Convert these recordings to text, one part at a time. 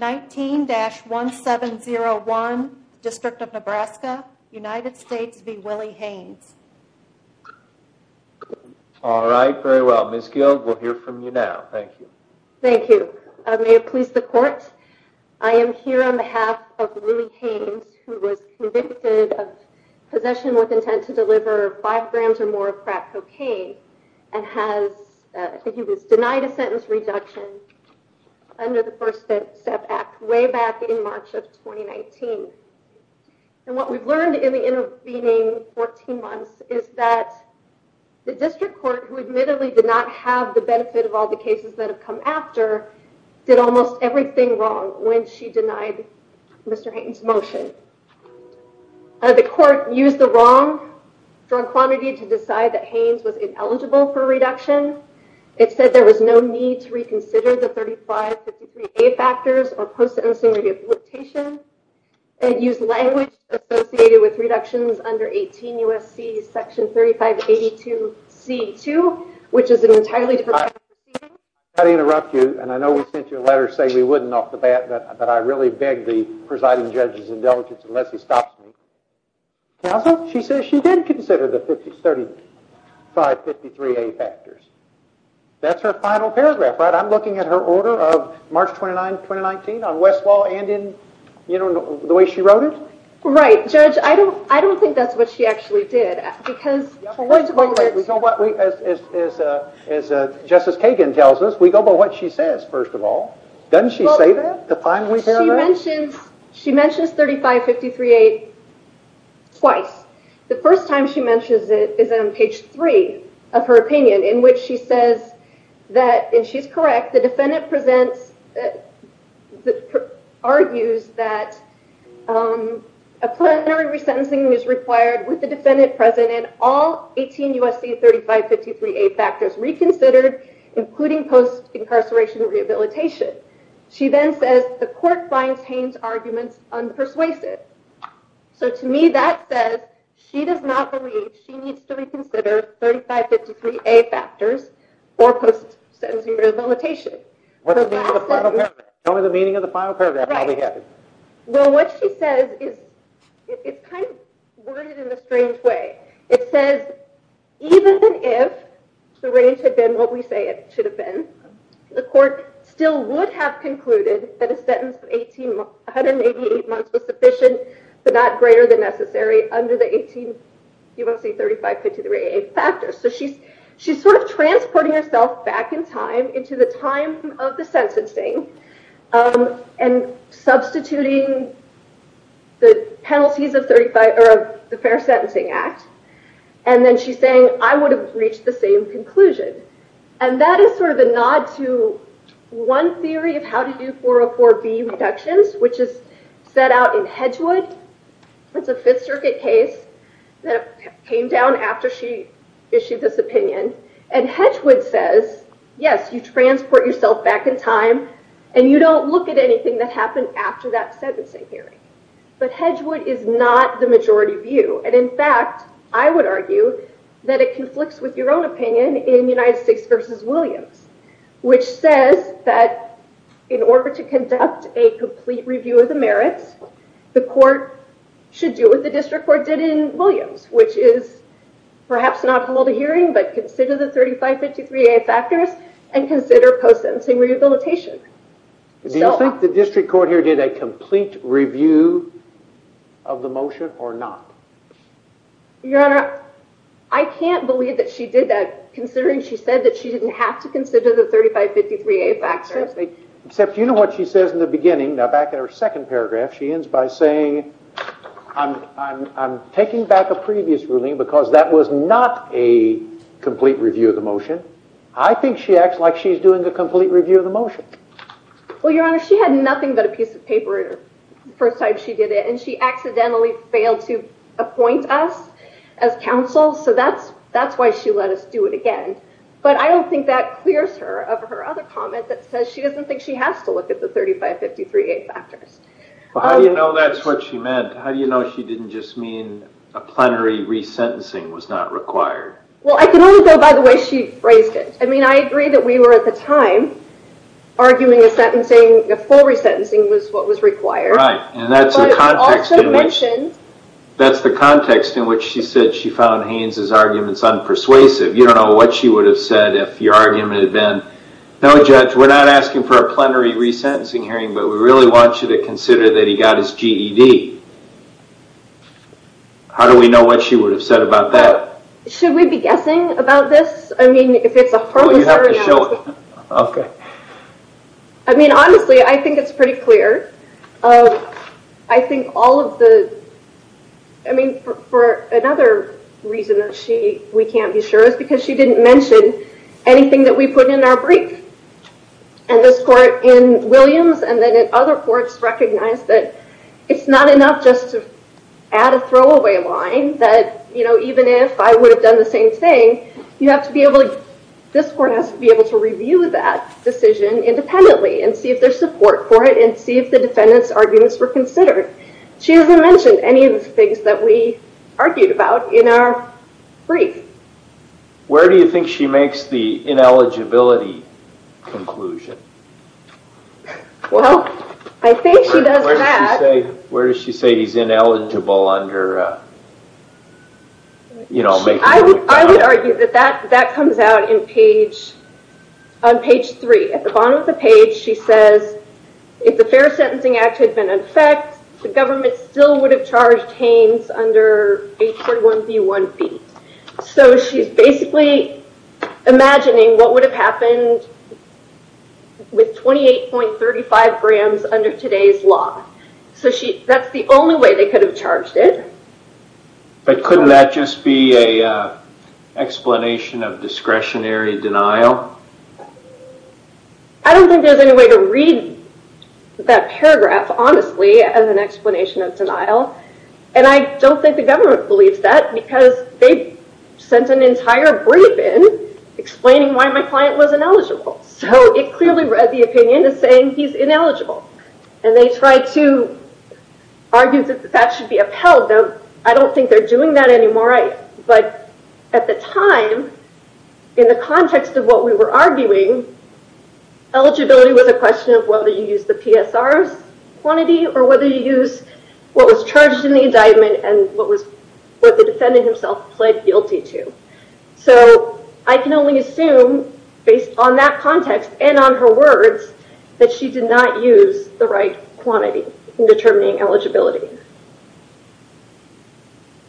19-1701, District of Nebraska, United States v. Willie Haynes. All right, very well. Ms. Guild, we'll hear from you now. Thank you. Thank you. May it please the court, I am here on behalf of Willie Haynes who was convicted of possession with intent to deliver five grams or more of crack cocaine and has, he was denied a sentence reduction under the First Step Act way back in March of 2019. And what we've learned in the intervening 14 months is that the district court, who admittedly did not have the benefit of all the cases that have come after, did almost everything wrong when she denied Mr. Haynes' motion. The court used the wrong drug quantity to decide that Haynes was ineligible for a reduction. It said there was no need to reconsider the 35-53A factors or post-sentencing rehabilitation. It used language associated with reductions under 18 U.S.C. section 35-82-C-2, which is an entirely different... If I may interrupt you, and I know we sent you a letter saying we wouldn't off the bat, but I really beg the presiding judge's indulgence unless he stops me. She says she did consider the 35-53A factors. That's her final paragraph, right? I'm looking at her order of March 29, 2019 on Westlaw and in, you know, the way she wrote it? Right. Judge, I don't think that's what she actually did because... Yeah, but wait a moment. As Justice Kagan tells us, we go by what she says, first of all. Doesn't she say the final paragraph? She mentions 35-53A twice. The first time she mentions it is on page 3 of her opinion in which she says that, and she's correct, the defendant argues that a plenary resentencing is required with the defendant present and all 18 U.S.C. 35-53A factors reconsidered, including post-incarceration rehabilitation. She then says the court finds Haines' arguments unpersuasive. So, to me, that says she does not believe she needs to reconsider 35-53A factors for post-sentencing rehabilitation. What's the meaning of the final paragraph? Tell me the meaning of the final paragraph. Right. Well, what she says is, it's kind of worded in a strange way. It says, even if the range had been what we say it should have been, the court still would have concluded that a sentence of 188 months was sufficient but not greater than necessary under the 18 U.S.C. 35-53A factors. So, she's sort of transporting herself back in time into the time of the sentencing and substituting the penalties of the Fair Sentencing Act. And then she's saying, I would have reached the same conclusion. And that is sort of a nod to one theory of how to do 404B reductions, which is set out in Hedgewood. It's a Fifth Circuit case that came down after she issued this opinion. And Hedgewood says, yes, you transport yourself back in time and you don't look at anything that happened after that sentencing hearing. But Hedgewood is not the majority view. And, in fact, I would argue that it conflicts with your own opinion in United States v. Williams, which says that in order to conduct a complete review of the merits, the court should do what the district court did in Williams, which is perhaps not hold a hearing but consider the 35-53A factors and consider post-sentencing rehabilitation. Do you think the district court here did a complete review of the motion or not? Your Honor, I can't believe that she did that considering she said that she didn't have to consider the 35-53A factors. Except you know what she says in the beginning, now back in her second paragraph, she ends by saying, I'm taking back a previous ruling because that was not a complete review of the motion. I think she acts like she's doing a complete review of the motion. Well, Your Honor, she had nothing but a piece of paper the first time she did it. And she accidentally failed to appoint us as counsel. So that's why she let us do it again. But I don't think that clears her of her other comment that says she doesn't think she has to consider the 35-53A factors. How do you know that's what she meant? How do you know she didn't just mean a plenary resentencing was not required? Well, I can only go by the way she phrased it. I mean, I agree that we were at the time arguing a sentencing, a full resentencing was what was required. Right. And that's the context in which she said she found Haynes' arguments unpersuasive. You don't know what she would have said if your argument had been, no, Judge, we're not asking for a plenary resentencing hearing, but we really want you to consider that he got his GED. How do we know what she would have said about that? Should we be guessing about this? I mean, if it's a whole story. Okay. I mean, honestly, I think it's pretty clear. I think all of the, I mean, for another reason that we can't be sure is because she didn't mention anything that we put in our brief. And this court in Williams and then in other courts recognized that it's not enough just to add a throwaway line that, you know, even if I would have done the same thing, you have to be able to, this court has to be able to review that decision independently and see if there's support for it and see if the defendant's arguments were considered. She hasn't mentioned any of the things that we argued about in our brief. Where do you think she makes the ineligibility conclusion? Well, I think she does. Where does she say he's ineligible under, you know, I would argue that that comes out in page, on page three, at the bottom of the page, she says, if the Fair Sentencing Act had been in effect, the government still would have charged under 841B1B. So she's basically imagining what would have happened with 28.35 grams under today's law. So she, that's the only way they could have charged it. But couldn't that just be a explanation of discretionary denial? I don't think there's any way to read that paragraph, honestly, as an explanation of discretionary denial. And I don't think the government believes that because they sent an entire brief in explaining why my client was ineligible. So it clearly read the opinion as saying he's ineligible. And they tried to argue that that should be upheld. I don't think they're doing that anymore. But at the time, in the context of what we were arguing, eligibility was a question of whether you use the PSR's quantity or whether you use what was charged in the indictment and what the defendant himself pled guilty to. So I can only assume, based on that context and on her words, that she did not use the right quantity in determining eligibility.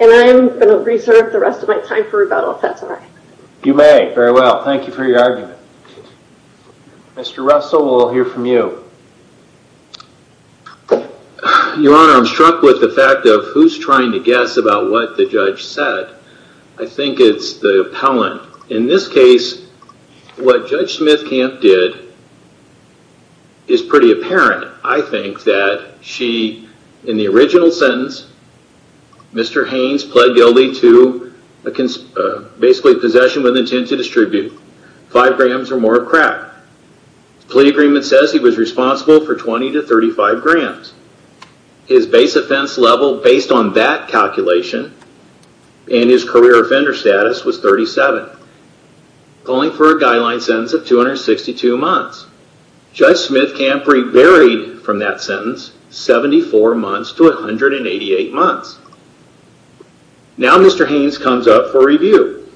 And I'm going to reserve the rest of my time for rebuttal if that's all right. You may. Very well. Thank you for your argument. Mr. Russell, we'll hear from you. Your Honor, I'm struck with the fact of who's trying to guess about what the judge said. I think it's the appellant. In this case, what Judge Smithcamp did is pretty apparent. I think that she, in the original sentence, Mr. Haynes pled guilty to basically possession with intent to distribute five grams or more of crack. The plea agreement says he was responsible for 20 to 35 grams. His base offense level, based on that calculation, and his career offender status was 37, calling for a guideline sentence of 262 months. Judge Smithcamp varied from that sentence 74 months to 188 months. Now Mr. Haynes comes up for review.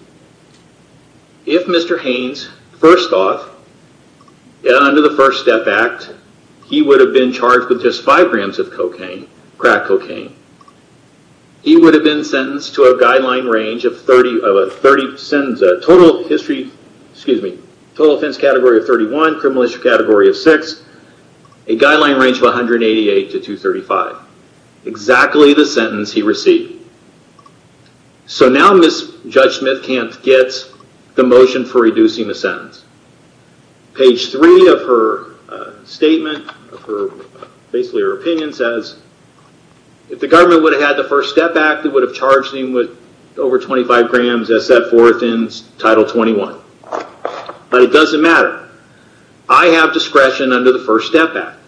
If Mr. Haynes, first off, under the First Step Act, he would have been charged with just five grams of cocaine, crack cocaine. He would have been sentenced to a guideline range of 30, total history, excuse me, total offense category of 31, criminal category of 6, a guideline range of 188 to 235, exactly the sentence he received. Now Judge Smithcamp gets the motion for reducing the sentence. Page 3 of her statement, basically her opinion says, if the government would have had the First Step Act, it would have charged him with over 25 grams as set forth in Title 21. But it doesn't matter. I have discretion under the First Step Act.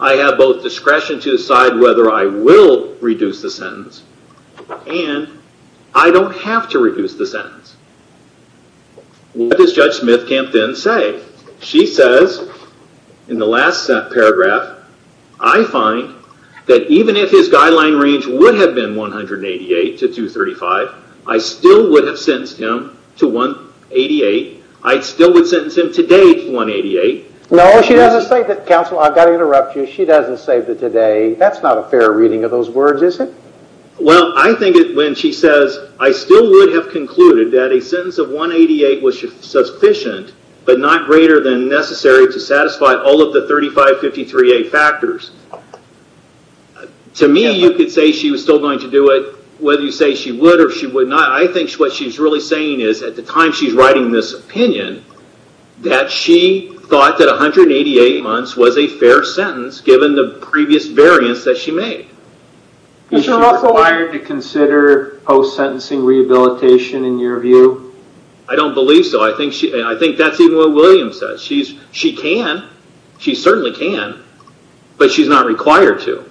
I have both discretion to decide whether I will reduce the sentence and I don't have to reduce the sentence. What does Judge Smithcamp then say? She says, in the last paragraph, I find that even if his sentence was 188, I still would sentence him today to 188. No, she doesn't say that. Counsel, I've got to interrupt you. She doesn't say that today. That's not a fair reading of those words, is it? Well, I think when she says, I still would have concluded that a sentence of 188 was sufficient but not greater than necessary to satisfy all of the 3553A factors. To me, you could say she was still going to do it whether you say she would or she would not. I think what she's really saying is, at the time she's writing this opinion, that she thought that 188 months was a fair sentence given the previous variance that she made. Is she required to consider post-sentencing rehabilitation in your view? I don't believe so. I think that's even what William says. She can. She certainly can. But she's not required to.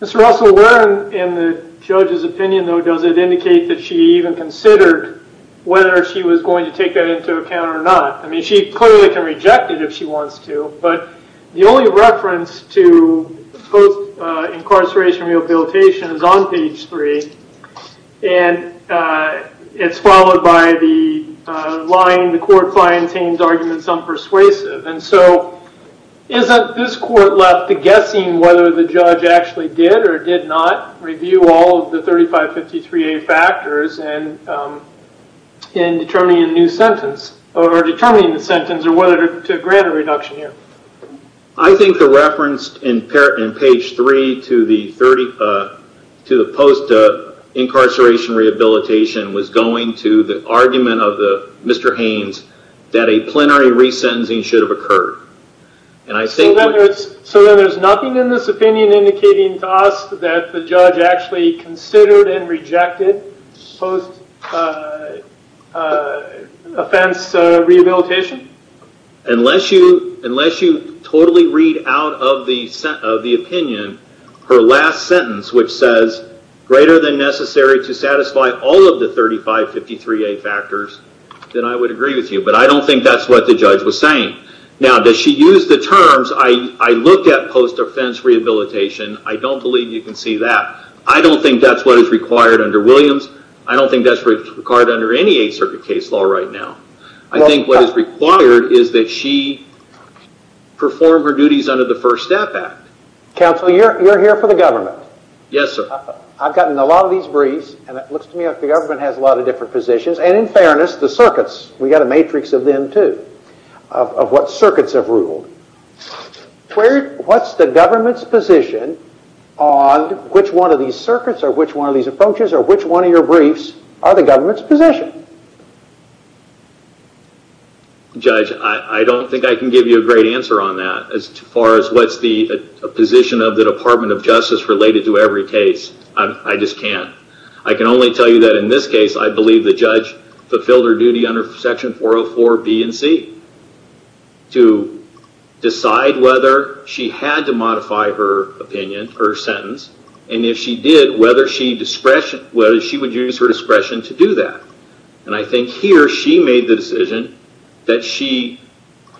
Mr. Russell, where in the judge's opinion, though, does it indicate that she even considered whether she was going to take that into account or not? I mean, she clearly can reject it if she wants to. But the only reference to post-incarceration rehabilitation is on page three. And it's followed by the line, the court finds Haines' arguments unpersuasive. And so, isn't this court left to guessing whether the judge actually did or did not review all of the 3553A factors in determining a new sentence or determining the sentence or whether to grant a reduction here? I think the reference in page three to the post-incarceration rehabilitation was going to the argument of Mr. Haines that a plenary resentencing should have occurred. So then there's nothing in this opinion indicating to us that the judge actually considered and rejected post-offense rehabilitation? Unless you totally read out of the opinion her last sentence, which says, greater than necessary to satisfy all of the 3553A factors, then I would agree with you. But I don't think that's what the judge was saying. Now, does she use the terms, I looked at post-offense rehabilitation. I don't believe you can see that. I don't think that's what is required under Williams. I don't think that's required under any Eighth Circuit case law right now. I think what is required is that she perform her duties under the First Step Act. Counsel, you're here for the government. Yes, sir. I've gotten a lot of these briefs and it looks to me like the government has a lot of different positions. And in fairness, the circuits, we got a matrix of them too, of what circuits have ruled. What's the government's position on which one of these circuits or which one of these approaches or which one of your briefs are the government's position? Judge, I don't think I can give you a great answer on that as far as what's the position of the Department of Justice related to every case. I just can't. I can only tell you that in this case, I believe the judge fulfilled her duty under Section 404B and C to decide whether she had to modify her opinion, her sentence, and if she did, whether she discretion, whether she would use her discretion to do that. And I think here she made the decision that she,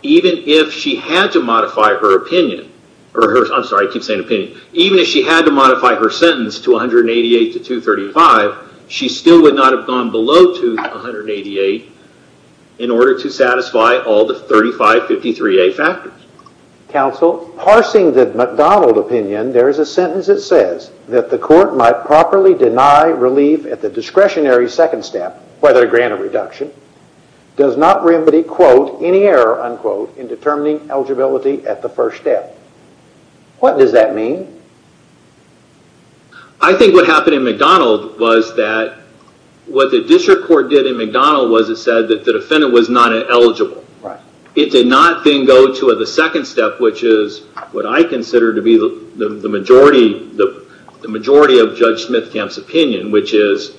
even if she had to modify her opinion, I'm sorry, I keep saying opinion, even if she had to modify her sentence to 188 to 235, she still would not have gone below to 188 in order to satisfy all the 3553A factors. Counsel, parsing the McDonald opinion, there is a sentence that says that the court might properly deny relief at the discretionary second step, whether granted reduction, does not remedy, quote, any error, unquote, in determining eligibility at the first step. What does that mean? I think what happened in McDonald was that what the district court did in McDonald was it said that the defendant was not eligible. Right. It did not then go to the second step, which is what I consider to be the majority of Judge Smithkamp's opinion, which is,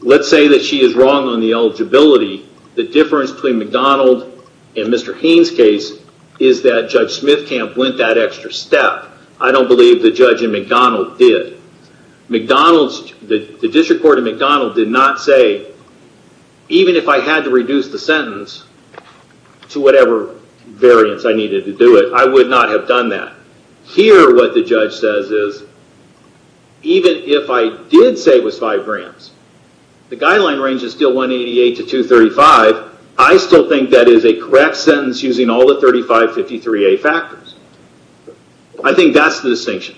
let's say that she is wrong on the eligibility, the difference between McDonald and Mr. Haynes' case is that Judge Smithkamp went that extra step. I don't believe the judge in McDonald did. The district court in McDonald did not say, even if I had to reduce the sentence to whatever variance I needed to do it, I would not have done that. Here what the judge says is, even if I did say it was five grants, the guideline range is still 188 to 235. I still think that is a correct sentence using all the 3553A factors. I think that's the distinction.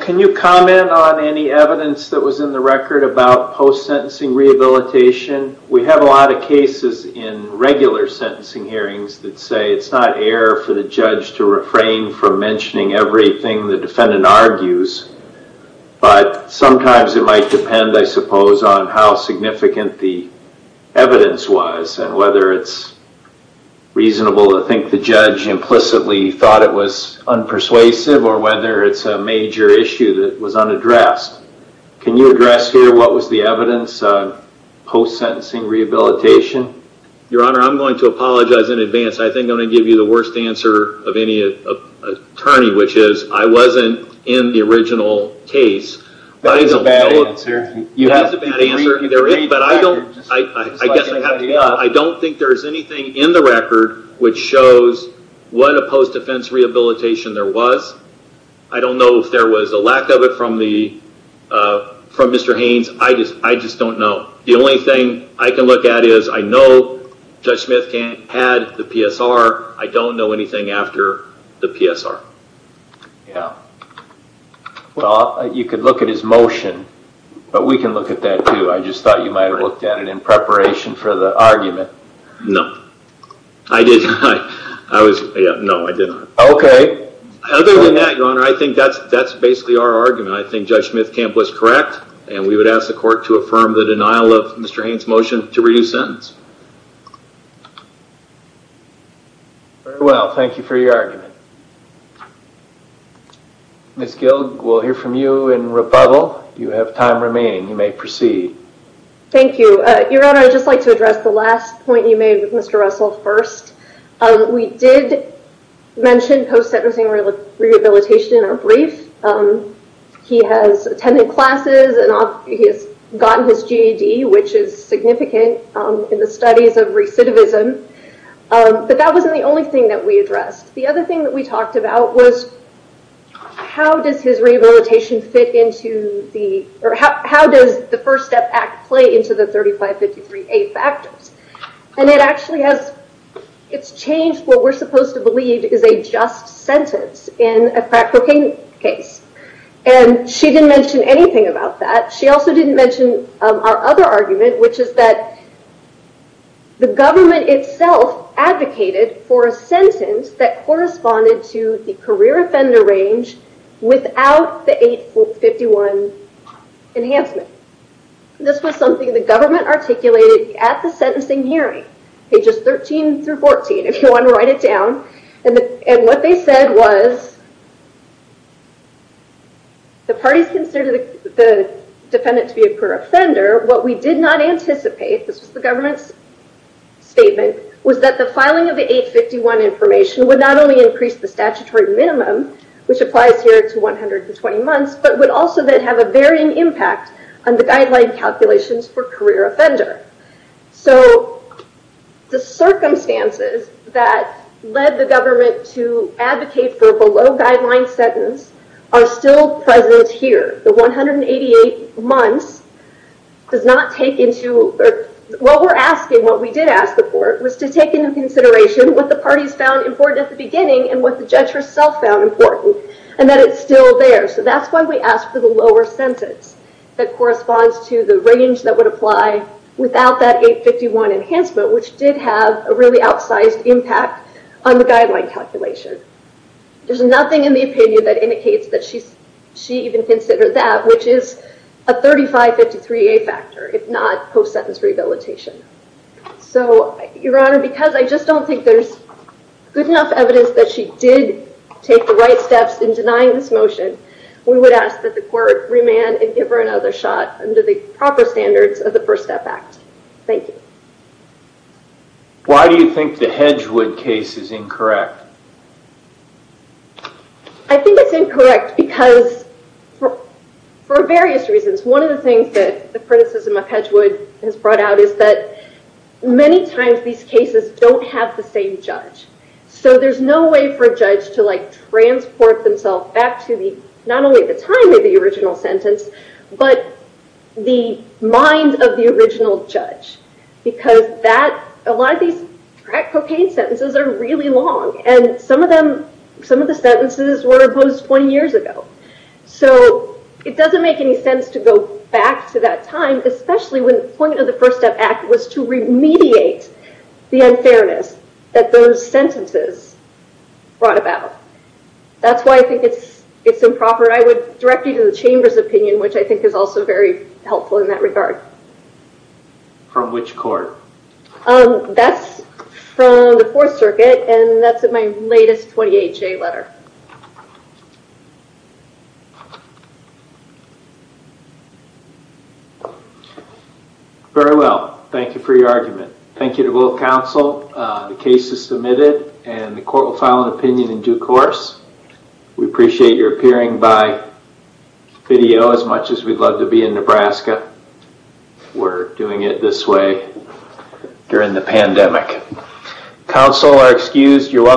Can you comment on any evidence that was in the record about post-sentencing rehabilitation? We have a lot of cases in regular sentencing hearings that say it's not error for the judge to refrain from mentioning everything the defendant argues, but sometimes it might depend, I suppose, on how significant the evidence was and whether it's reasonable to think the judge implicitly thought it was unpersuasive or whether it's a major issue that was unaddressed. Can you address here what was the evidence on post-sentencing rehabilitation? Your Honor, I'm going to apologize in advance. I think I'm going to give you the worst answer of any attorney, which is I wasn't in the original case. That is a bad answer. You have the bad answer. I don't think there's anything in the record which shows what a post-defense rehabilitation there was. I don't know if there was a lack of it from Mr. Haynes. I just don't know. The only thing I can look at is I know Judge Smith had the PSR. I don't know anything after the PSR. You could look at his motion, but we can look at that too. I just thought you might have looked at it in preparation for the argument. No, I did not. Other than that, Your Honor, I think that's basically our argument. I think Judge Smith Kemp was correct, and we would ask the court to affirm the denial of the evidence. Very well. Thank you for your argument. Ms. Gild, we'll hear from you in rebuttal. You have time remaining. You may proceed. Thank you. Your Honor, I'd just like to address the last point you made with Mr. Russell first. We did mention post-sentencing rehabilitation in our brief. He has attended classes. He has gotten his GED, which is significant in the studies of recidivism, but that wasn't the only thing that we addressed. The other thing that we talked about was how does the First Step Act play into the 3553A factors? It's changed what we're supposed to believe is a just sentence in a crack cocaine case. She didn't mention anything about that. She also didn't mention our other argument, which is that the government itself advocated for a sentence that corresponded to the career offender range without the 851 enhancement. This was something the government articulated at the sentencing hearing, pages 13 through 14, if you want to write it down. What they said was that the parties considered the defendant to be a career offender. What we did not anticipate, this was the government's statement, was that the filing of the 851 information would not only increase the statutory minimum, which applies here to 120 months, but would also then have a varying impact on the guideline calculations for career offender. The circumstances that led the government to advocate for a below guideline sentence are still present here. The 188 months does not take into... What we did ask the court was to take into consideration what the parties found important at the beginning and what the judge herself found important, and that it's still there. That's why we asked for the lower sentence that corresponds to the 851 enhancement, which did have a really outsized impact on the guideline calculation. There's nothing in the opinion that indicates that she even considered that, which is a 3553A factor, if not post-sentence rehabilitation. Your Honor, because I just don't think there's good enough evidence that she did take the right steps in denying this motion, we would ask that the court remand and give her another shot under the proper standards of the statute. Why do you think the Hedgewood case is incorrect? I think it's incorrect because for various reasons. One of the things that the criticism of Hedgewood has brought out is that many times these cases don't have the same judge, so there's no way for a judge to transport themselves back to not only the time of the judge, because a lot of these crack cocaine sentences are really long, and some of the sentences were opposed 20 years ago. It doesn't make any sense to go back to that time, especially when the point of the First Step Act was to remediate the unfairness that those sentences brought about. That's why I think it's improper. I would direct you to the Chamber's opinion, which I think is also very helpful in that regard. From which court? That's from the Fourth Circuit, and that's in my latest 20HA letter. Very well. Thank you for your argument. Thank you to both counsel. The case is submitted, and the court will file an opinion in due course. We appreciate your appearing by video as much as we'd love to be in Nebraska. We're doing it this way during the pandemic. Counsel are excused. You're welcome.